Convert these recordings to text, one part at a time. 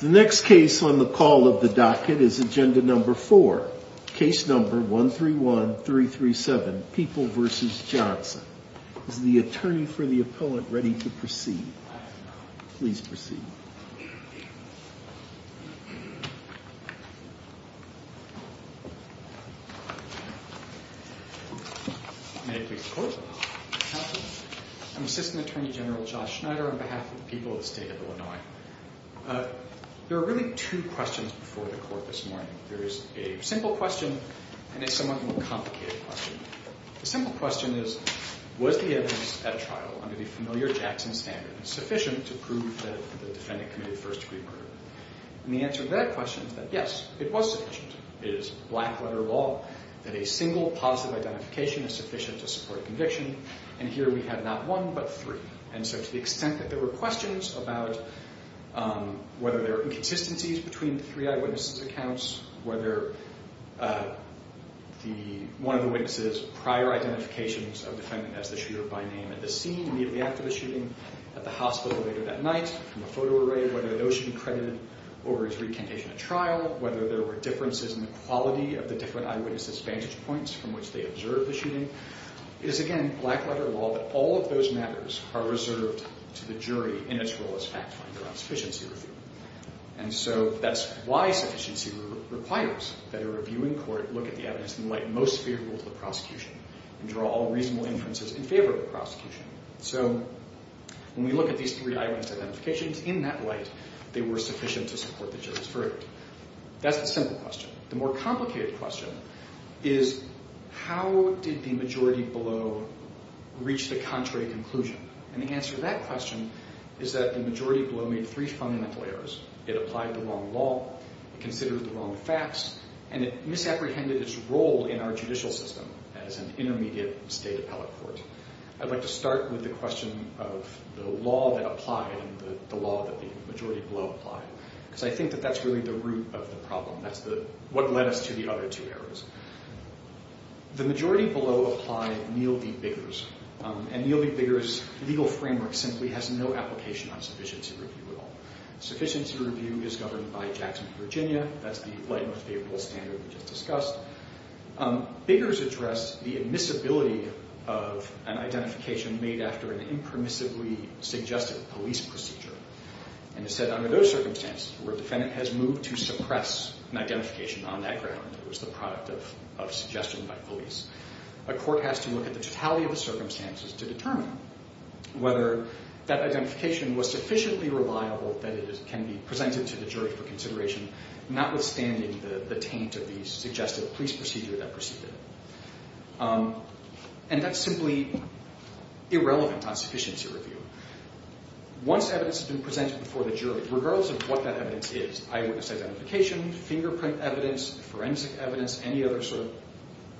The next case on the call of the docket is Agenda No. 4, Case No. 131337, People v. Johnson. Is the attorney for the appellant ready to proceed? Please proceed. May I please report? Counsel, I'm Assistant Attorney General Josh Schneider on behalf of the people of the state of Illinois. There are really two questions before the court this morning. There is a simple question and a somewhat more complicated question. The simple question is, was the evidence at trial under the familiar Jackson standard sufficient to prove that the defendant committed first-degree murder? And the answer to that question is that, yes, it was sufficient. It is black-letter law that a single positive identification is sufficient to support a conviction. And here we have not one but three. And so to the extent that there were questions about whether there are inconsistencies between the three eyewitness accounts, whether one of the witnesses' prior identifications of the defendant as the shooter by name at the scene immediately after the shooting at the hospital later that night, from a photo array, whether those should be credited over his recantation at trial, whether there were differences in the quality of the different eyewitness' vantage points from which they observed the shooting, it is, again, black-letter law that all of those matters are reserved to the jury in its role as fact-finder on sufficiency review. And so that's why sufficiency requires that a reviewing court look at the evidence in the light most favorable to the prosecution and draw all reasonable inferences in favor of the prosecution. So when we look at these three eyewitness identifications, in that light, they were sufficient to support the jury's verdict. That's the simple question. The more complicated question is how did the majority below reach the contrary conclusion? And the answer to that question is that the majority below made three fundamental errors. It applied the wrong law. It considered the wrong facts. And it misapprehended its role in our judicial system as an intermediate state appellate court. I'd like to start with the question of the law that applied and the law that the majority below applied, because I think that that's really the root of the problem. That's what led us to the other two errors. The majority below applied Neal v. Biggers. And Neal v. Biggers' legal framework simply has no application on sufficiency review at all. Sufficiency review is governed by Jackson v. Virginia. That's the light most favorable standard we just discussed. Biggers addressed the admissibility of an identification made after an impermissibly suggested police procedure, and has said under those circumstances where a defendant has moved to suppress an identification on that ground that was the product of suggestion by police, a court has to look at the totality of the circumstances to determine whether that identification was sufficiently reliable that it can be presented to the jury for consideration, notwithstanding the taint of the suggested police procedure that preceded it. And that's simply irrelevant on sufficiency review. Once evidence has been presented before the jury, regardless of what that evidence is, eyewitness identification, fingerprint evidence, forensic evidence, any other sort of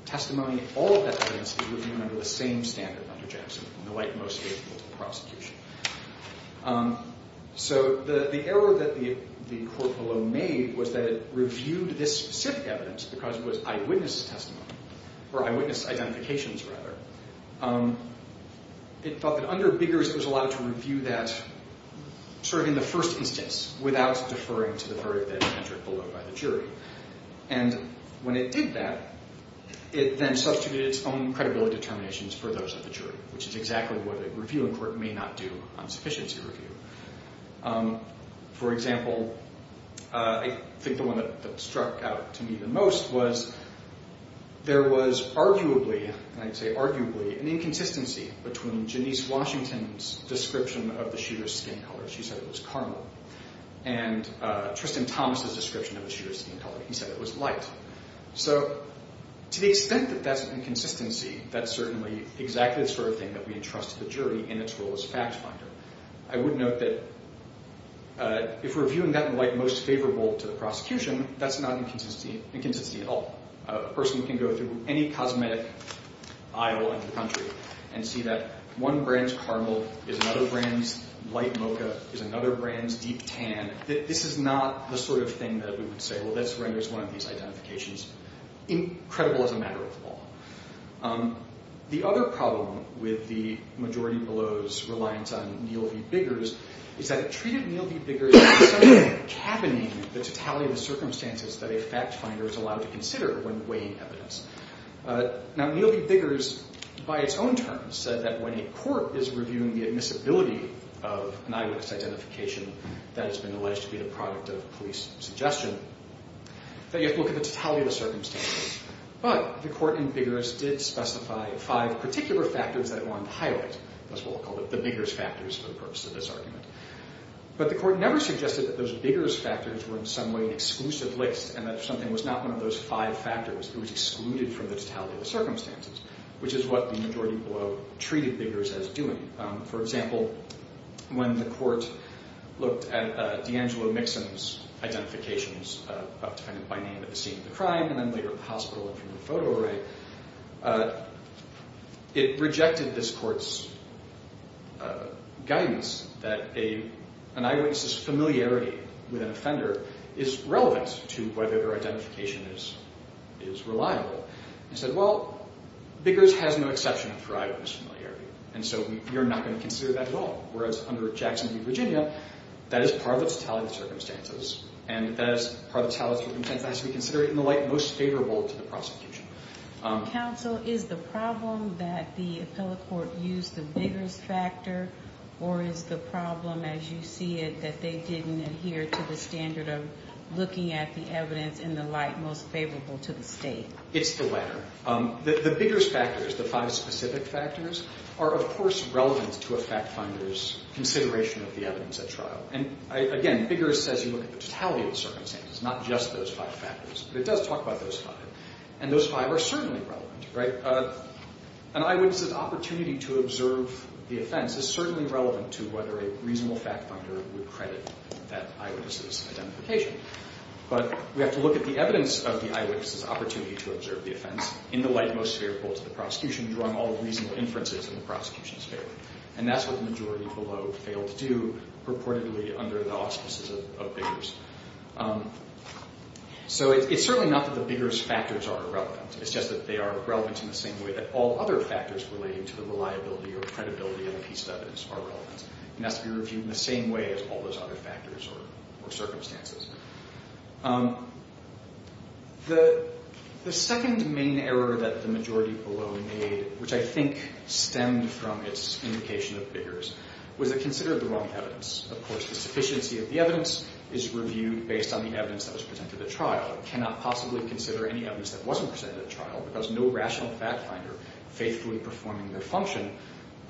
testimony, all of that evidence is reviewed under the same standard under Jackson, the light most favorable prosecution. So the error that the court below made was that it reviewed this specific evidence because it was eyewitness testimony, or eyewitness identifications, rather. It felt that under Biggers it was allowed to review that sort of in the first instance without deferring to the verdict that it entered below by the jury. And when it did that, it then substituted its own credibility determinations for those of the jury, which is exactly what a review in court may not do on sufficiency review. For example, I think the one that struck out to me the most was there was arguably, and I say arguably, an inconsistency between Janice Washington's description of the shooter's skin color. She said it was caramel. And Tristan Thomas's description of the shooter's skin color, he said it was light. So to the extent that that's an inconsistency, that's certainly exactly the sort of thing that we entrust to the jury in its role as fact finder. I would note that if we're viewing that in light most favorable to the prosecution, that's not inconsistency at all. A person can go through any cosmetic aisle in the country and see that one brand's caramel is another brand's light mocha, is another brand's deep tan. This is not the sort of thing that we would say, well, this renders one of these identifications credible as a matter of law. The other problem with the majority below's reliance on Neal v. Biggers is that it treated Neal v. Biggers as some way of cabining the totality of the circumstances that a fact finder is allowed to consider when weighing evidence. Now, Neal v. Biggers, by its own terms, said that when a court is reviewing the admissibility of an eyewitness identification that has been alleged to be the product of police suggestion, that you have to look at the totality of the circumstances. But the court in Biggers did specify five particular factors that it wanted to highlight. That's why we'll call it the Biggers factors for the purpose of this argument. But the court never suggested that those Biggers factors were in some way an exclusive list and that something was not one of those five factors. It was excluded from the totality of the circumstances, which is what the majority below treated Biggers as doing. For example, when the court looked at D'Angelo Mixon's identifications, a defendant by name at the scene of the crime and then later at the hospital and from the photo array, it rejected this court's guidance that an eyewitness's familiarity with an offender is relevant to whether their identification is reliable. It said, well, Biggers has no exception for eyewitness familiarity, and so you're not going to consider that at all. Whereas under Jackson v. Virginia, that is part of the totality of the circumstances, and that is part of the totality of the circumstances as we consider it in the light most favorable to the prosecution. Counsel, is the problem that the appellate court used the Biggers factor, or is the problem, as you see it, that they didn't adhere to the standard of looking at the evidence in the light most favorable to the state? It's the latter. The Biggers factors, the five specific factors, are, of course, relevant to a fact finder's consideration of the evidence at trial. And, again, Biggers says you look at the totality of the circumstances, not just those five factors. But it does talk about those five, and those five are certainly relevant. An eyewitness's opportunity to observe the offense is certainly relevant to whether a reasonable fact finder would credit that eyewitness's identification. But we have to look at the evidence of the eyewitness's opportunity to observe the offense in the light most favorable to the prosecution, drawing all reasonable inferences in the prosecution's favor. And that's what the majority below failed to do purportedly under the auspices of Biggers. So it's certainly not that the Biggers factors are irrelevant. It's just that they are relevant in the same way that all other factors relating to the reliability or credibility of a piece of evidence are relevant. It has to be reviewed in the same way as all those other factors or circumstances. The second main error that the majority below made, which I think stemmed from its indication of Biggers, was it considered the wrong evidence. Of course, the sufficiency of the evidence is reviewed based on the evidence that was presented at trial. It cannot possibly consider any evidence that wasn't presented at trial because no rational fact finder, faithfully performing their function,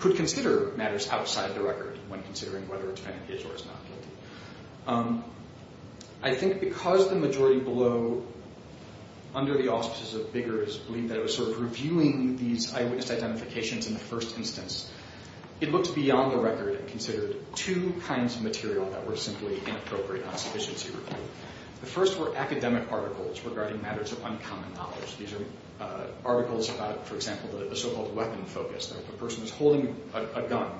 could consider matters outside the record when considering whether a defendant is or is not guilty. I think because the majority below, under the auspices of Biggers, believed that it was sort of reviewing these eyewitness identifications in the first instance, it looked beyond the record and considered two kinds of material that were simply inappropriate on sufficiency review. The first were academic articles regarding matters of uncommon knowledge. These are articles about, for example, the so-called weapon focus, that if a person is holding a gun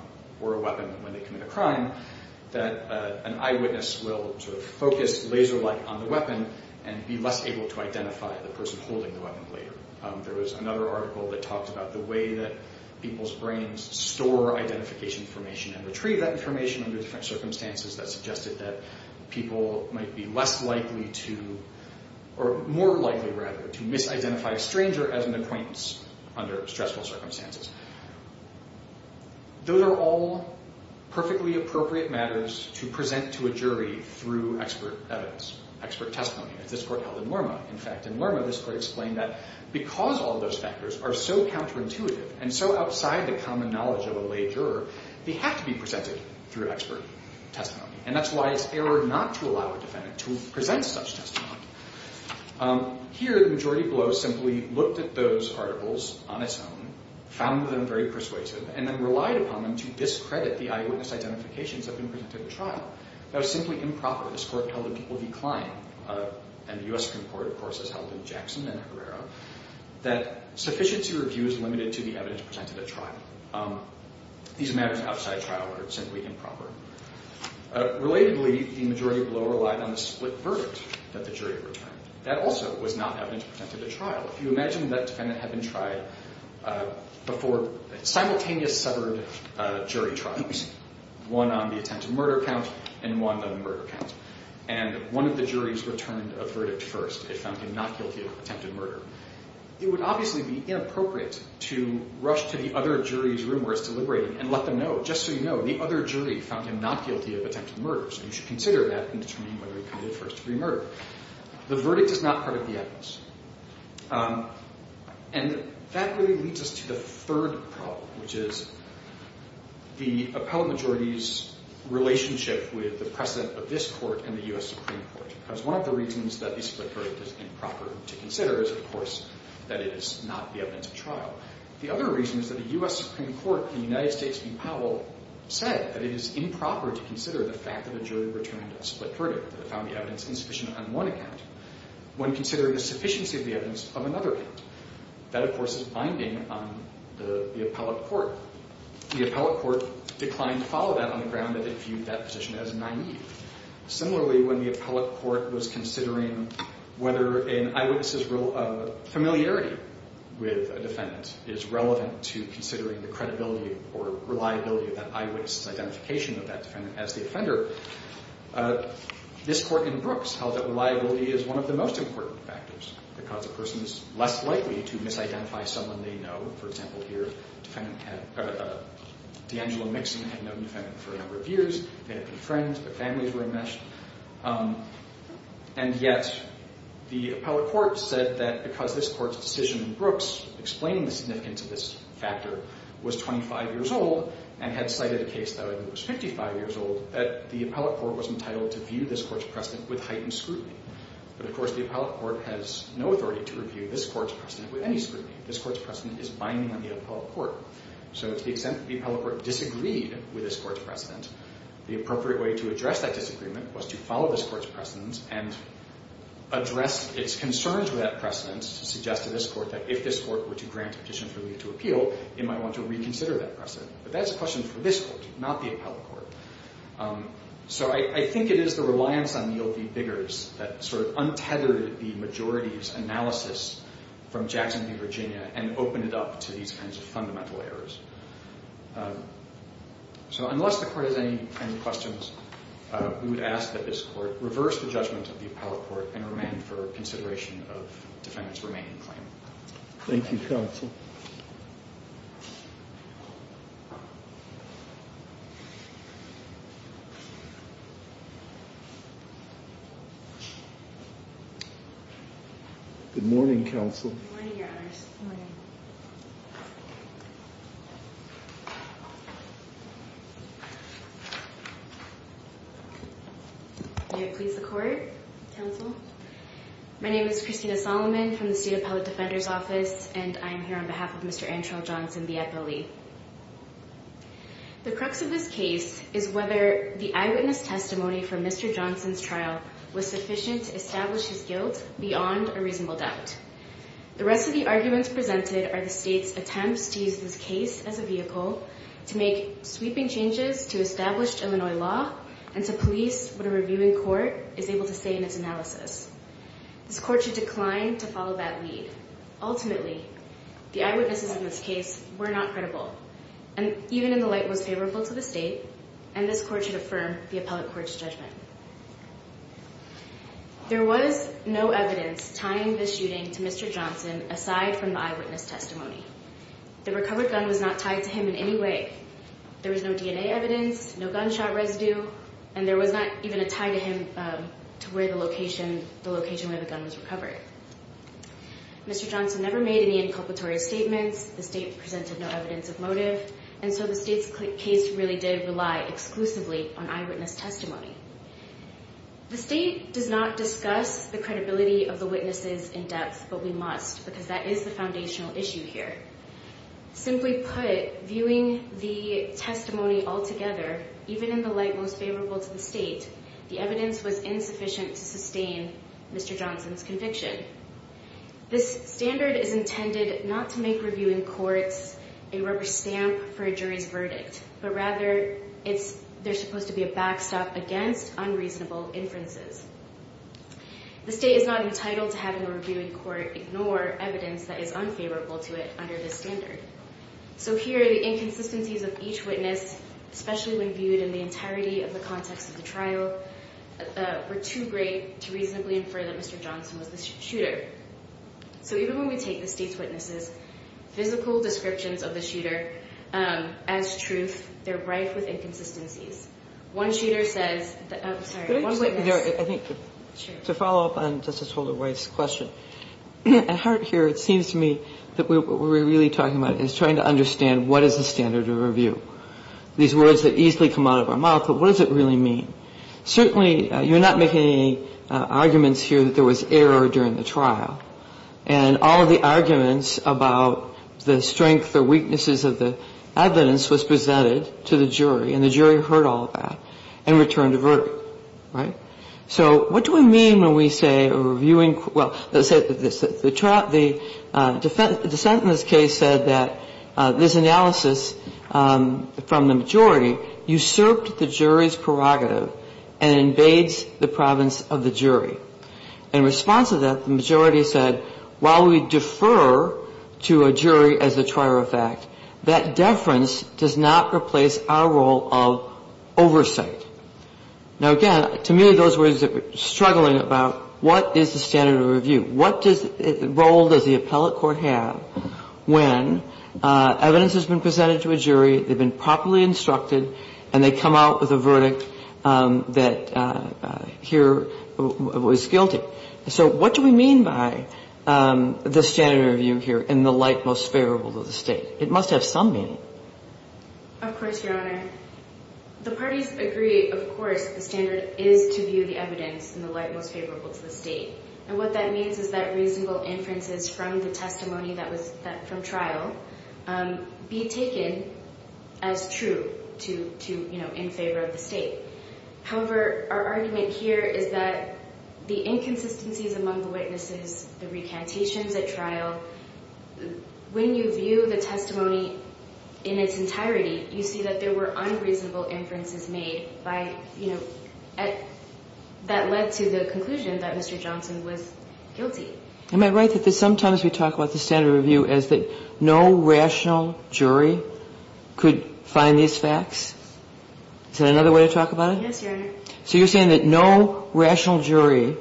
or a weapon when they commit a crime, that an eyewitness will sort of focus laser-like on the weapon and be less able to identify the person holding the weapon later. There was another article that talked about the way that people's brains store identification information and retrieve that information under different circumstances that suggested that people might be less likely to, or more likely, rather, to misidentify a stranger as an acquaintance under stressful circumstances. Those are all perfectly appropriate matters to present to a jury through expert evidence, expert testimony. As this Court held in Lorma, in fact. In Lorma, this Court explained that because all those factors are so counterintuitive and so outside the common knowledge of a lay juror, they have to be presented through expert testimony. And that's why it's error not to allow a defendant to present such testimony. Here, the majority below simply looked at those articles on its own, found them very persuasive, and then relied upon them to discredit the eyewitness identifications that had been presented at trial. That was simply improper. This Court held that people decline, and the U.S. Supreme Court, of course, has held in Jackson and Herrera, that sufficiency review is limited to the evidence presented at trial. These matters outside trial are simply improper. Relatedly, the majority below relied on the split verdict that the jury returned. That also was not evidence presented at trial. If you imagine that defendant had been tried before simultaneous severed jury trials, one on the attempted murder count and one on the murder count, and one of the juries returned a verdict first, they found him not guilty of attempted murder, it would obviously be inappropriate to rush to the other jury's room where it's deliberating and let them know, just so you know, the other jury found him not guilty of attempted murder, so you should consider that in determining whether he committed first-degree murder. The verdict is not part of the evidence. And that really leads us to the third problem, which is the appellate majority's relationship with the precedent of this Court and the U.S. Supreme Court, because one of the reasons that the split verdict is improper to consider is, of course, that it is not the evidence of trial. The other reason is that the U.S. Supreme Court in the United States v. Powell said that it is improper to consider the fact that a jury returned a split verdict, that it found the evidence insufficient on one account. When considering the sufficiency of the evidence on another account, that, of course, is binding on the appellate court. The appellate court declined to follow that on the ground that it viewed that position as naive. Similarly, when the appellate court was considering whether an eyewitness's familiarity with a defendant is relevant to considering the credibility or reliability of that eyewitness's identification of that defendant as the offender, this Court in Brooks held that reliability is one of the most important factors because a person is less likely to misidentify someone they know. For example, here, D'Angelo Mixon had known the defendant for a number of years. They had been friends. Their families were enmeshed. And yet the appellate court said that because this Court's decision in Brooks explaining the significance of this factor was 25 years old and had cited a case that I believe was 55 years old, that the appellate court was entitled to view this Court's precedent with heightened scrutiny. But, of course, the appellate court has no authority to review this Court's precedent with any scrutiny. This Court's precedent is binding on the appellate court. So to the extent that the appellate court disagreed with this Court's precedent, the appropriate way to address that disagreement was to follow this Court's precedent and address its concerns with that precedent, to suggest to this court that if this court were to grant a petition for leave to appeal, it might want to reconsider that precedent. But that's a question for this Court, not the appellate court. So I think it is the reliance on Neil D. Biggers that sort of untethered the majority's analysis from Jackson v. Virginia and opened it up to these kinds of fundamental errors. So unless the Court has any questions, we would ask that this Court reverse the judgment of the appellate court and remain for consideration of the defendant's remaining claim. Thank you, Counsel. Good morning, Counsel. Good morning, Your Honors. Good morning. May it please the Court, Counsel. My name is Christina Solomon from the State Appellate Defender's Office, and I am here on behalf of Mr. Andrew Johnson, the appellee. The crux of this case is whether the eyewitness testimony for Mr. Johnson's trial was sufficient to establish his guilt beyond a reasonable doubt. The rest of the arguments presented are the State's attempts to use this case as a vehicle to make sweeping changes to established Illinois law and to police what a reviewing court is able to say in its analysis. This Court should decline to follow that lead. Ultimately, the eyewitnesses in this case were not credible, even in the light most favorable to the State, and this Court should affirm the appellate court's judgment. There was no evidence tying this shooting to Mr. Johnson aside from the eyewitness testimony. The recovered gun was not tied to him in any way. There was no DNA evidence, no gunshot residue, and there was not even a tie to him to the location where the gun was recovered. Mr. Johnson never made any inculpatory statements. The State presented no evidence of motive, and so the State's case really did rely exclusively on eyewitness testimony. The State does not discuss the credibility of the witnesses in depth, but we must because that is the foundational issue here. Simply put, viewing the testimony altogether, even in the light most favorable to the State, the evidence was insufficient to sustain Mr. Johnson's conviction. This standard is intended not to make reviewing courts a rubber stamp for a jury's verdict, but rather there's supposed to be a backstop against unreasonable inferences. The State is not entitled to have a reviewing court ignore evidence that is unfavorable to it under this standard. So here, the inconsistencies of each witness, especially when viewed in the entirety of the context of the trial, were too great to reasonably infer that Mr. Johnson was the shooter. So even when we take the State's witnesses, physical descriptions of the shooter as truth, they're rife with inconsistencies. One shooter says that, I'm sorry, one witness... I think to follow up on Justice Holder White's question, at heart here it seems to me that what we're really talking about is trying to understand what is the standard of review. These words that easily come out of our mouth, but what does it really mean? Certainly, you're not making any arguments here that there was error during the trial, and all of the arguments about the strength or weaknesses of the evidence was presented to the jury, and the jury heard all of that, and returned a verdict, right? So what do we mean when we say reviewing... Well, let's say the defendant in this case said that this analysis from the majority usurped the jury's prerogative and invades the province of the jury. In response to that, the majority said, while we defer to a jury as a trier of fact, that deference does not replace our role of oversight. Now, again, to me those words are struggling about what is the standard of review? What role does the appellate court have when evidence has been presented to a jury, they've been properly instructed, and they come out with a verdict that here was guilty? So what do we mean by the standard of review here in the light most favorable to the State? It must have some meaning. Of course, Your Honor. The parties agree, of course, the standard is to view the evidence in the light most favorable to the State. And what that means is that reasonable inferences from the testimony from trial be taken as true in favor of the State. However, our argument here is that the inconsistencies among the witnesses, the recantations at trial, when you view the testimony in its entirety, you see that there were unreasonable inferences made by, you know, that led to the conclusion that Mr. Johnson was guilty. Am I right that sometimes we talk about the standard of review as that no rational jury could find these facts? Is that another way to talk about it? Yes, Your Honor. So you're saying that no rational jury,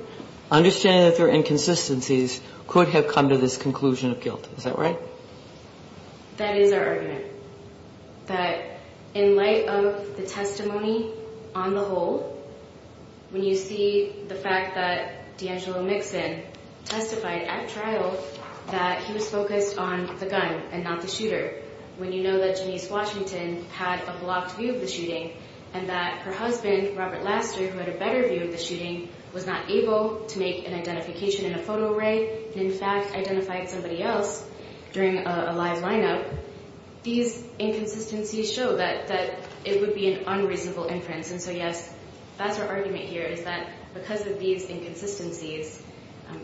understanding that there are inconsistencies, could have come to this conclusion of guilt. Is that right? That is our argument. That in light of the testimony on the whole, when you see the fact that D'Angelo Mixon testified at trial that he was focused on the gun and not the shooter, when you know that Janiece Washington had a blocked view of the shooting and that her husband, Robert Laster, who had a better view of the shooting, was not able to make an identification in a photo array and, in fact, identified somebody else during a live lineup, these inconsistencies show that it would be an unreasonable inference. And so, yes, that's our argument here, is that because of these inconsistencies,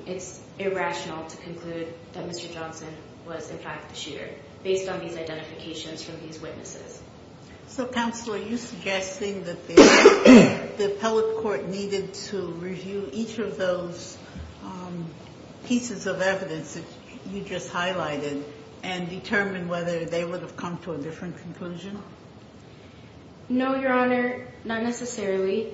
it's irrational to conclude that Mr. Johnson was, in fact, the shooter, based on these identifications from these witnesses. So, Counselor, are you suggesting that the appellate court needed to review each of those pieces of evidence that you just highlighted and determine whether they would have come to a different conclusion? No, Your Honor, not necessarily.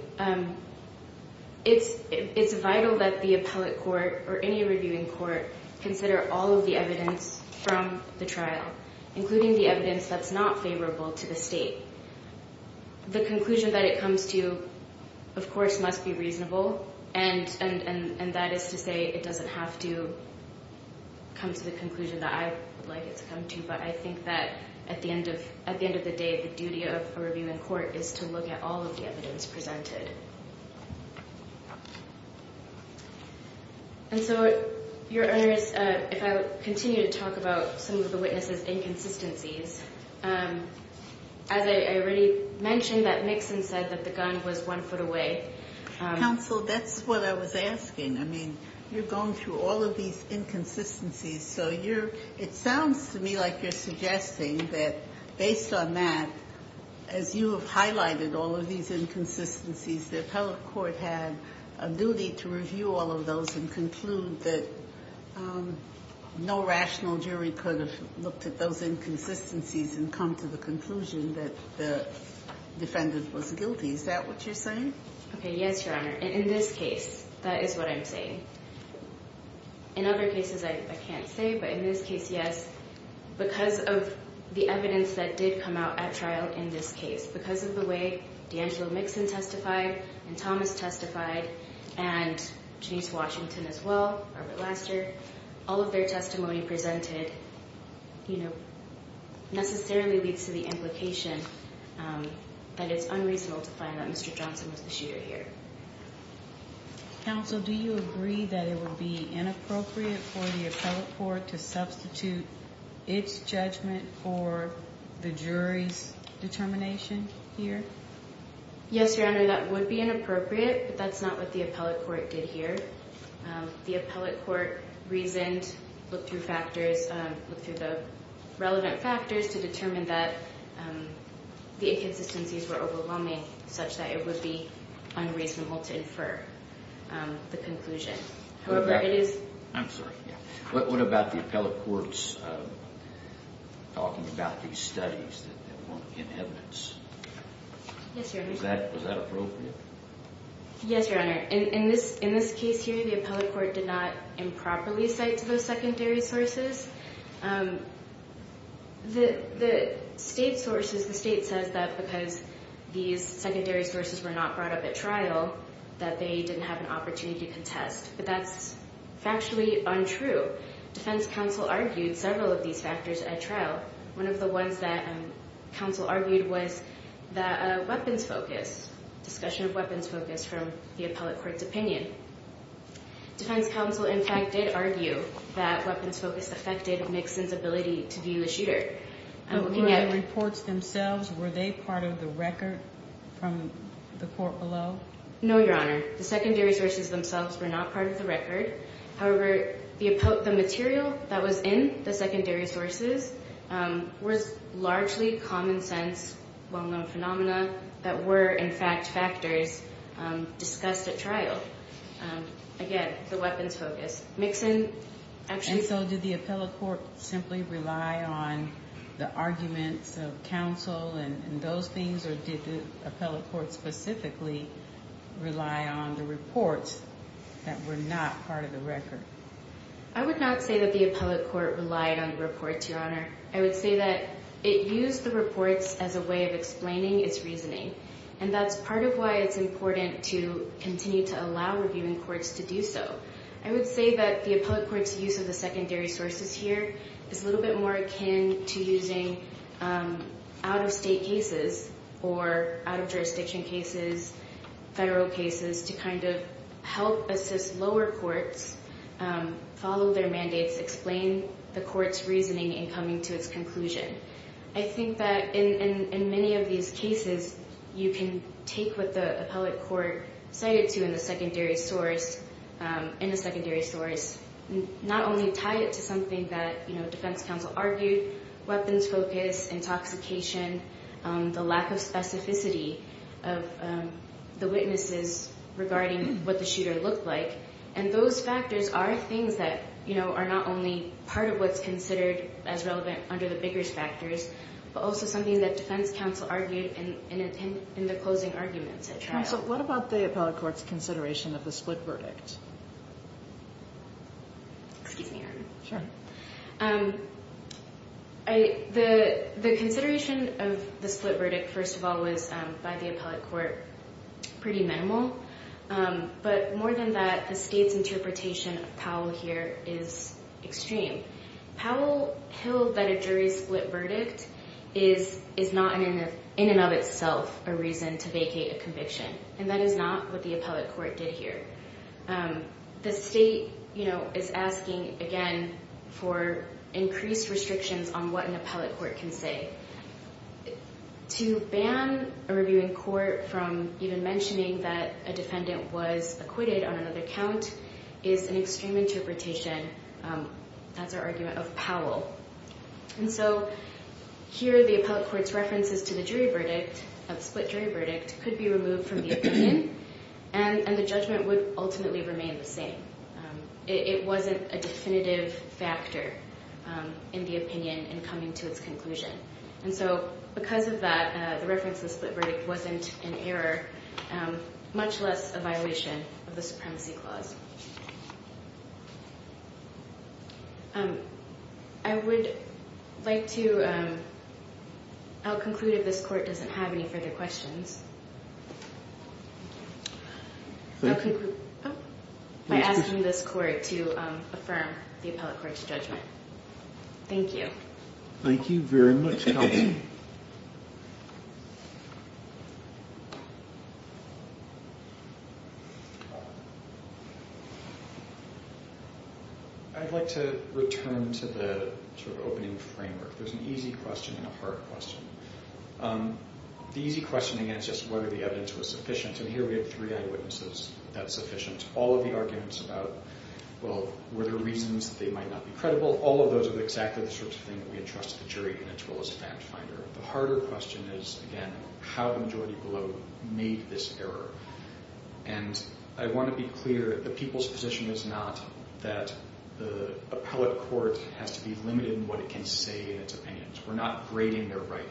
It's vital that the appellate court or any reviewing court consider all of the evidence from the trial, including the evidence that's not favorable to the State. The conclusion that it comes to, of course, must be reasonable, and that is to say it doesn't have to come to the conclusion that I would like it to come to, but I think that at the end of the day, the duty of a reviewing court is to look at all of the evidence presented. And so, Your Honors, if I would continue to talk about some of the witnesses' inconsistencies, as I already mentioned that Mixon said that the gun was one foot away. Counsel, that's what I was asking. I mean, you're going through all of these inconsistencies, so it sounds to me like you're suggesting that based on that, as you have highlighted all of these inconsistencies, the appellate court had a duty to review all of those and conclude that no rational jury could have looked at those inconsistencies and come to the conclusion that the defendant was guilty. Is that what you're saying? Okay. Yes, Your Honor. And in this case, that is what I'm saying. In other cases, I can't say, but in this case, yes. Because of the evidence that did come out at trial in this case, because of the way D'Angelo Mixon testified and Thomas testified and Janice Washington as well, Robert Laster, all of their testimony presented necessarily leads to the implication that it's unreasonable to find that Mr. Johnson was the shooter here. Counsel, do you agree that it would be inappropriate for the appellate court to substitute its judgment for the jury's determination here? Yes, Your Honor. That would be inappropriate, but that's not what the appellate court did here. The appellate court reasoned, looked through factors, looked through the relevant factors to determine that the inconsistencies were overwhelming such that it would be unreasonable to infer the conclusion. However, it is— I'm sorry. What about the appellate court's talking about these studies that weren't in evidence? Yes, Your Honor. Was that appropriate? Yes, Your Honor. In this case here, the appellate court did not improperly cite those secondary sources. The state sources, the state says that because these secondary sources were not brought up at trial that they didn't have an opportunity to contest, but that's factually untrue. Defense counsel argued several of these factors at trial. One of the ones that counsel argued was the weapons focus, discussion of weapons focus from the appellate court's opinion. Defense counsel, in fact, did argue that weapons focus affected Nixon's ability to view the shooter. Were the reports themselves, were they part of the record from the court below? No, Your Honor. The secondary sources themselves were not part of the record. However, the material that was in the secondary sources was largely common sense, well-known phenomena that were, in fact, factors discussed at trial. Again, the weapons focus. And so did the appellate court simply rely on the arguments of counsel and those things, or did the appellate court specifically rely on the reports that were not part of the record? I would not say that the appellate court relied on the reports, Your Honor. I would say that it used the reports as a way of explaining its reasoning, and that's part of why it's important to continue to allow reviewing courts to do so. I would say that the appellate court's use of the secondary sources here is a little bit more akin to using out-of-state cases or out-of-jurisdiction cases, federal cases, to kind of help assist lower courts, follow their mandates, explain the court's reasoning in coming to its conclusion. I think that in many of these cases, you can take what the appellate court cited to in the secondary source, not only tie it to something that, you know, defense counsel argued, weapons focus, intoxication, the lack of specificity of the witnesses regarding what the shooter looked like, and those factors are things that, you know, are not only part of what's considered as relevant under the biggest factors, but also something that defense counsel argued in the closing arguments at trial. So what about the appellate court's consideration of the split verdict? Excuse me, Your Honor. Sure. The consideration of the split verdict, first of all, was by the appellate court pretty minimal, but more than that, the state's interpretation of Powell here is extreme. Powell held that a jury split verdict is not in and of itself a reason to vacate a conviction, and that is not what the appellate court did here. The state, you know, is asking, again, for increased restrictions on what an appellate court can say. To ban a reviewing court from even mentioning that a defendant was acquitted on another count is an extreme interpretation, that's our argument, of Powell. And so here the appellate court's references to the jury verdict, a split jury verdict, could be removed from the opinion, and the judgment would ultimately remain the same. It wasn't a definitive factor in the opinion in coming to its conclusion. And so because of that, the reference to the split verdict wasn't an error, much less a violation of the supremacy clause. I would like to out-conclude if this court doesn't have any further questions. I'll conclude by asking this court to affirm the appellate court's judgment. Thank you. Thank you very much, Kelsey. I'd like to return to the sort of opening framework. There's an easy question and a hard question. The easy question, again, is just whether the evidence was sufficient. And here we have three eyewitnesses that are sufficient. All of the arguments about, well, were there reasons that they might not be credible, all of those are exactly the sorts of things that we entrust to the jury in its role as a fact-finder. The harder question is, again, how the majority below made this error. And I want to be clear, the people's position is not that the appellate court has to be limited in what it can say in its opinions. We're not grading their writing.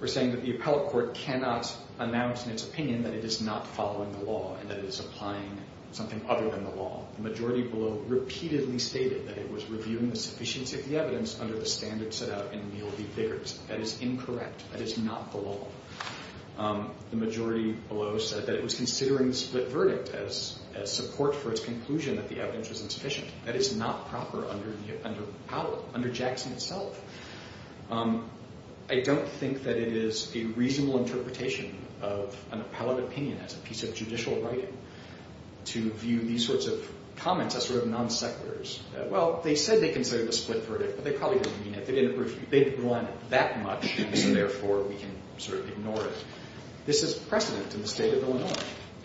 We're saying that the appellate court cannot announce in its opinion that it is not following the law and that it is applying something other than the law. The majority below repeatedly stated that it was reviewing the sufficiency of the evidence under the standards set out in Neal v. Biggert. That is incorrect. That is not the law. The majority below said that it was considering the split verdict as support for its conclusion that the evidence was insufficient. That is not proper under the appellate, under Jackson itself. I don't think that it is a reasonable interpretation of an appellate opinion as a piece of judicial writing to view these sorts of comments as sort of non sequiturs. Well, they said they considered the split verdict, but they probably didn't mean it. They didn't rely on it that much, and so therefore we can sort of ignore it. This is precedent in the state of Illinois,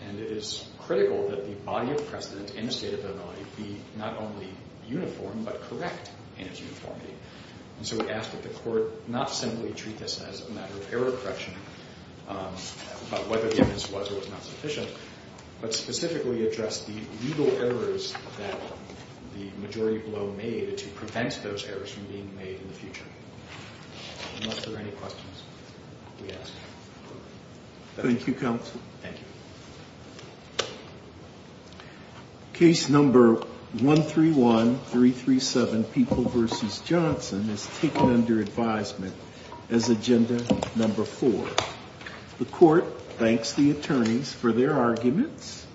and it is critical that the body of precedent in the state of Illinois be not only uniform but correct in its uniformity. And so we ask that the court not simply treat this as a matter of error correction about whether the evidence was or was not sufficient, but specifically address the legal errors that the majority below made to prevent those errors from being made in the future. Unless there are any questions, we ask. Thank you, counsel. Thank you. Case number 131337, People v. Johnson, is taken under advisement as agenda number four. The court thanks the attorneys for their arguments.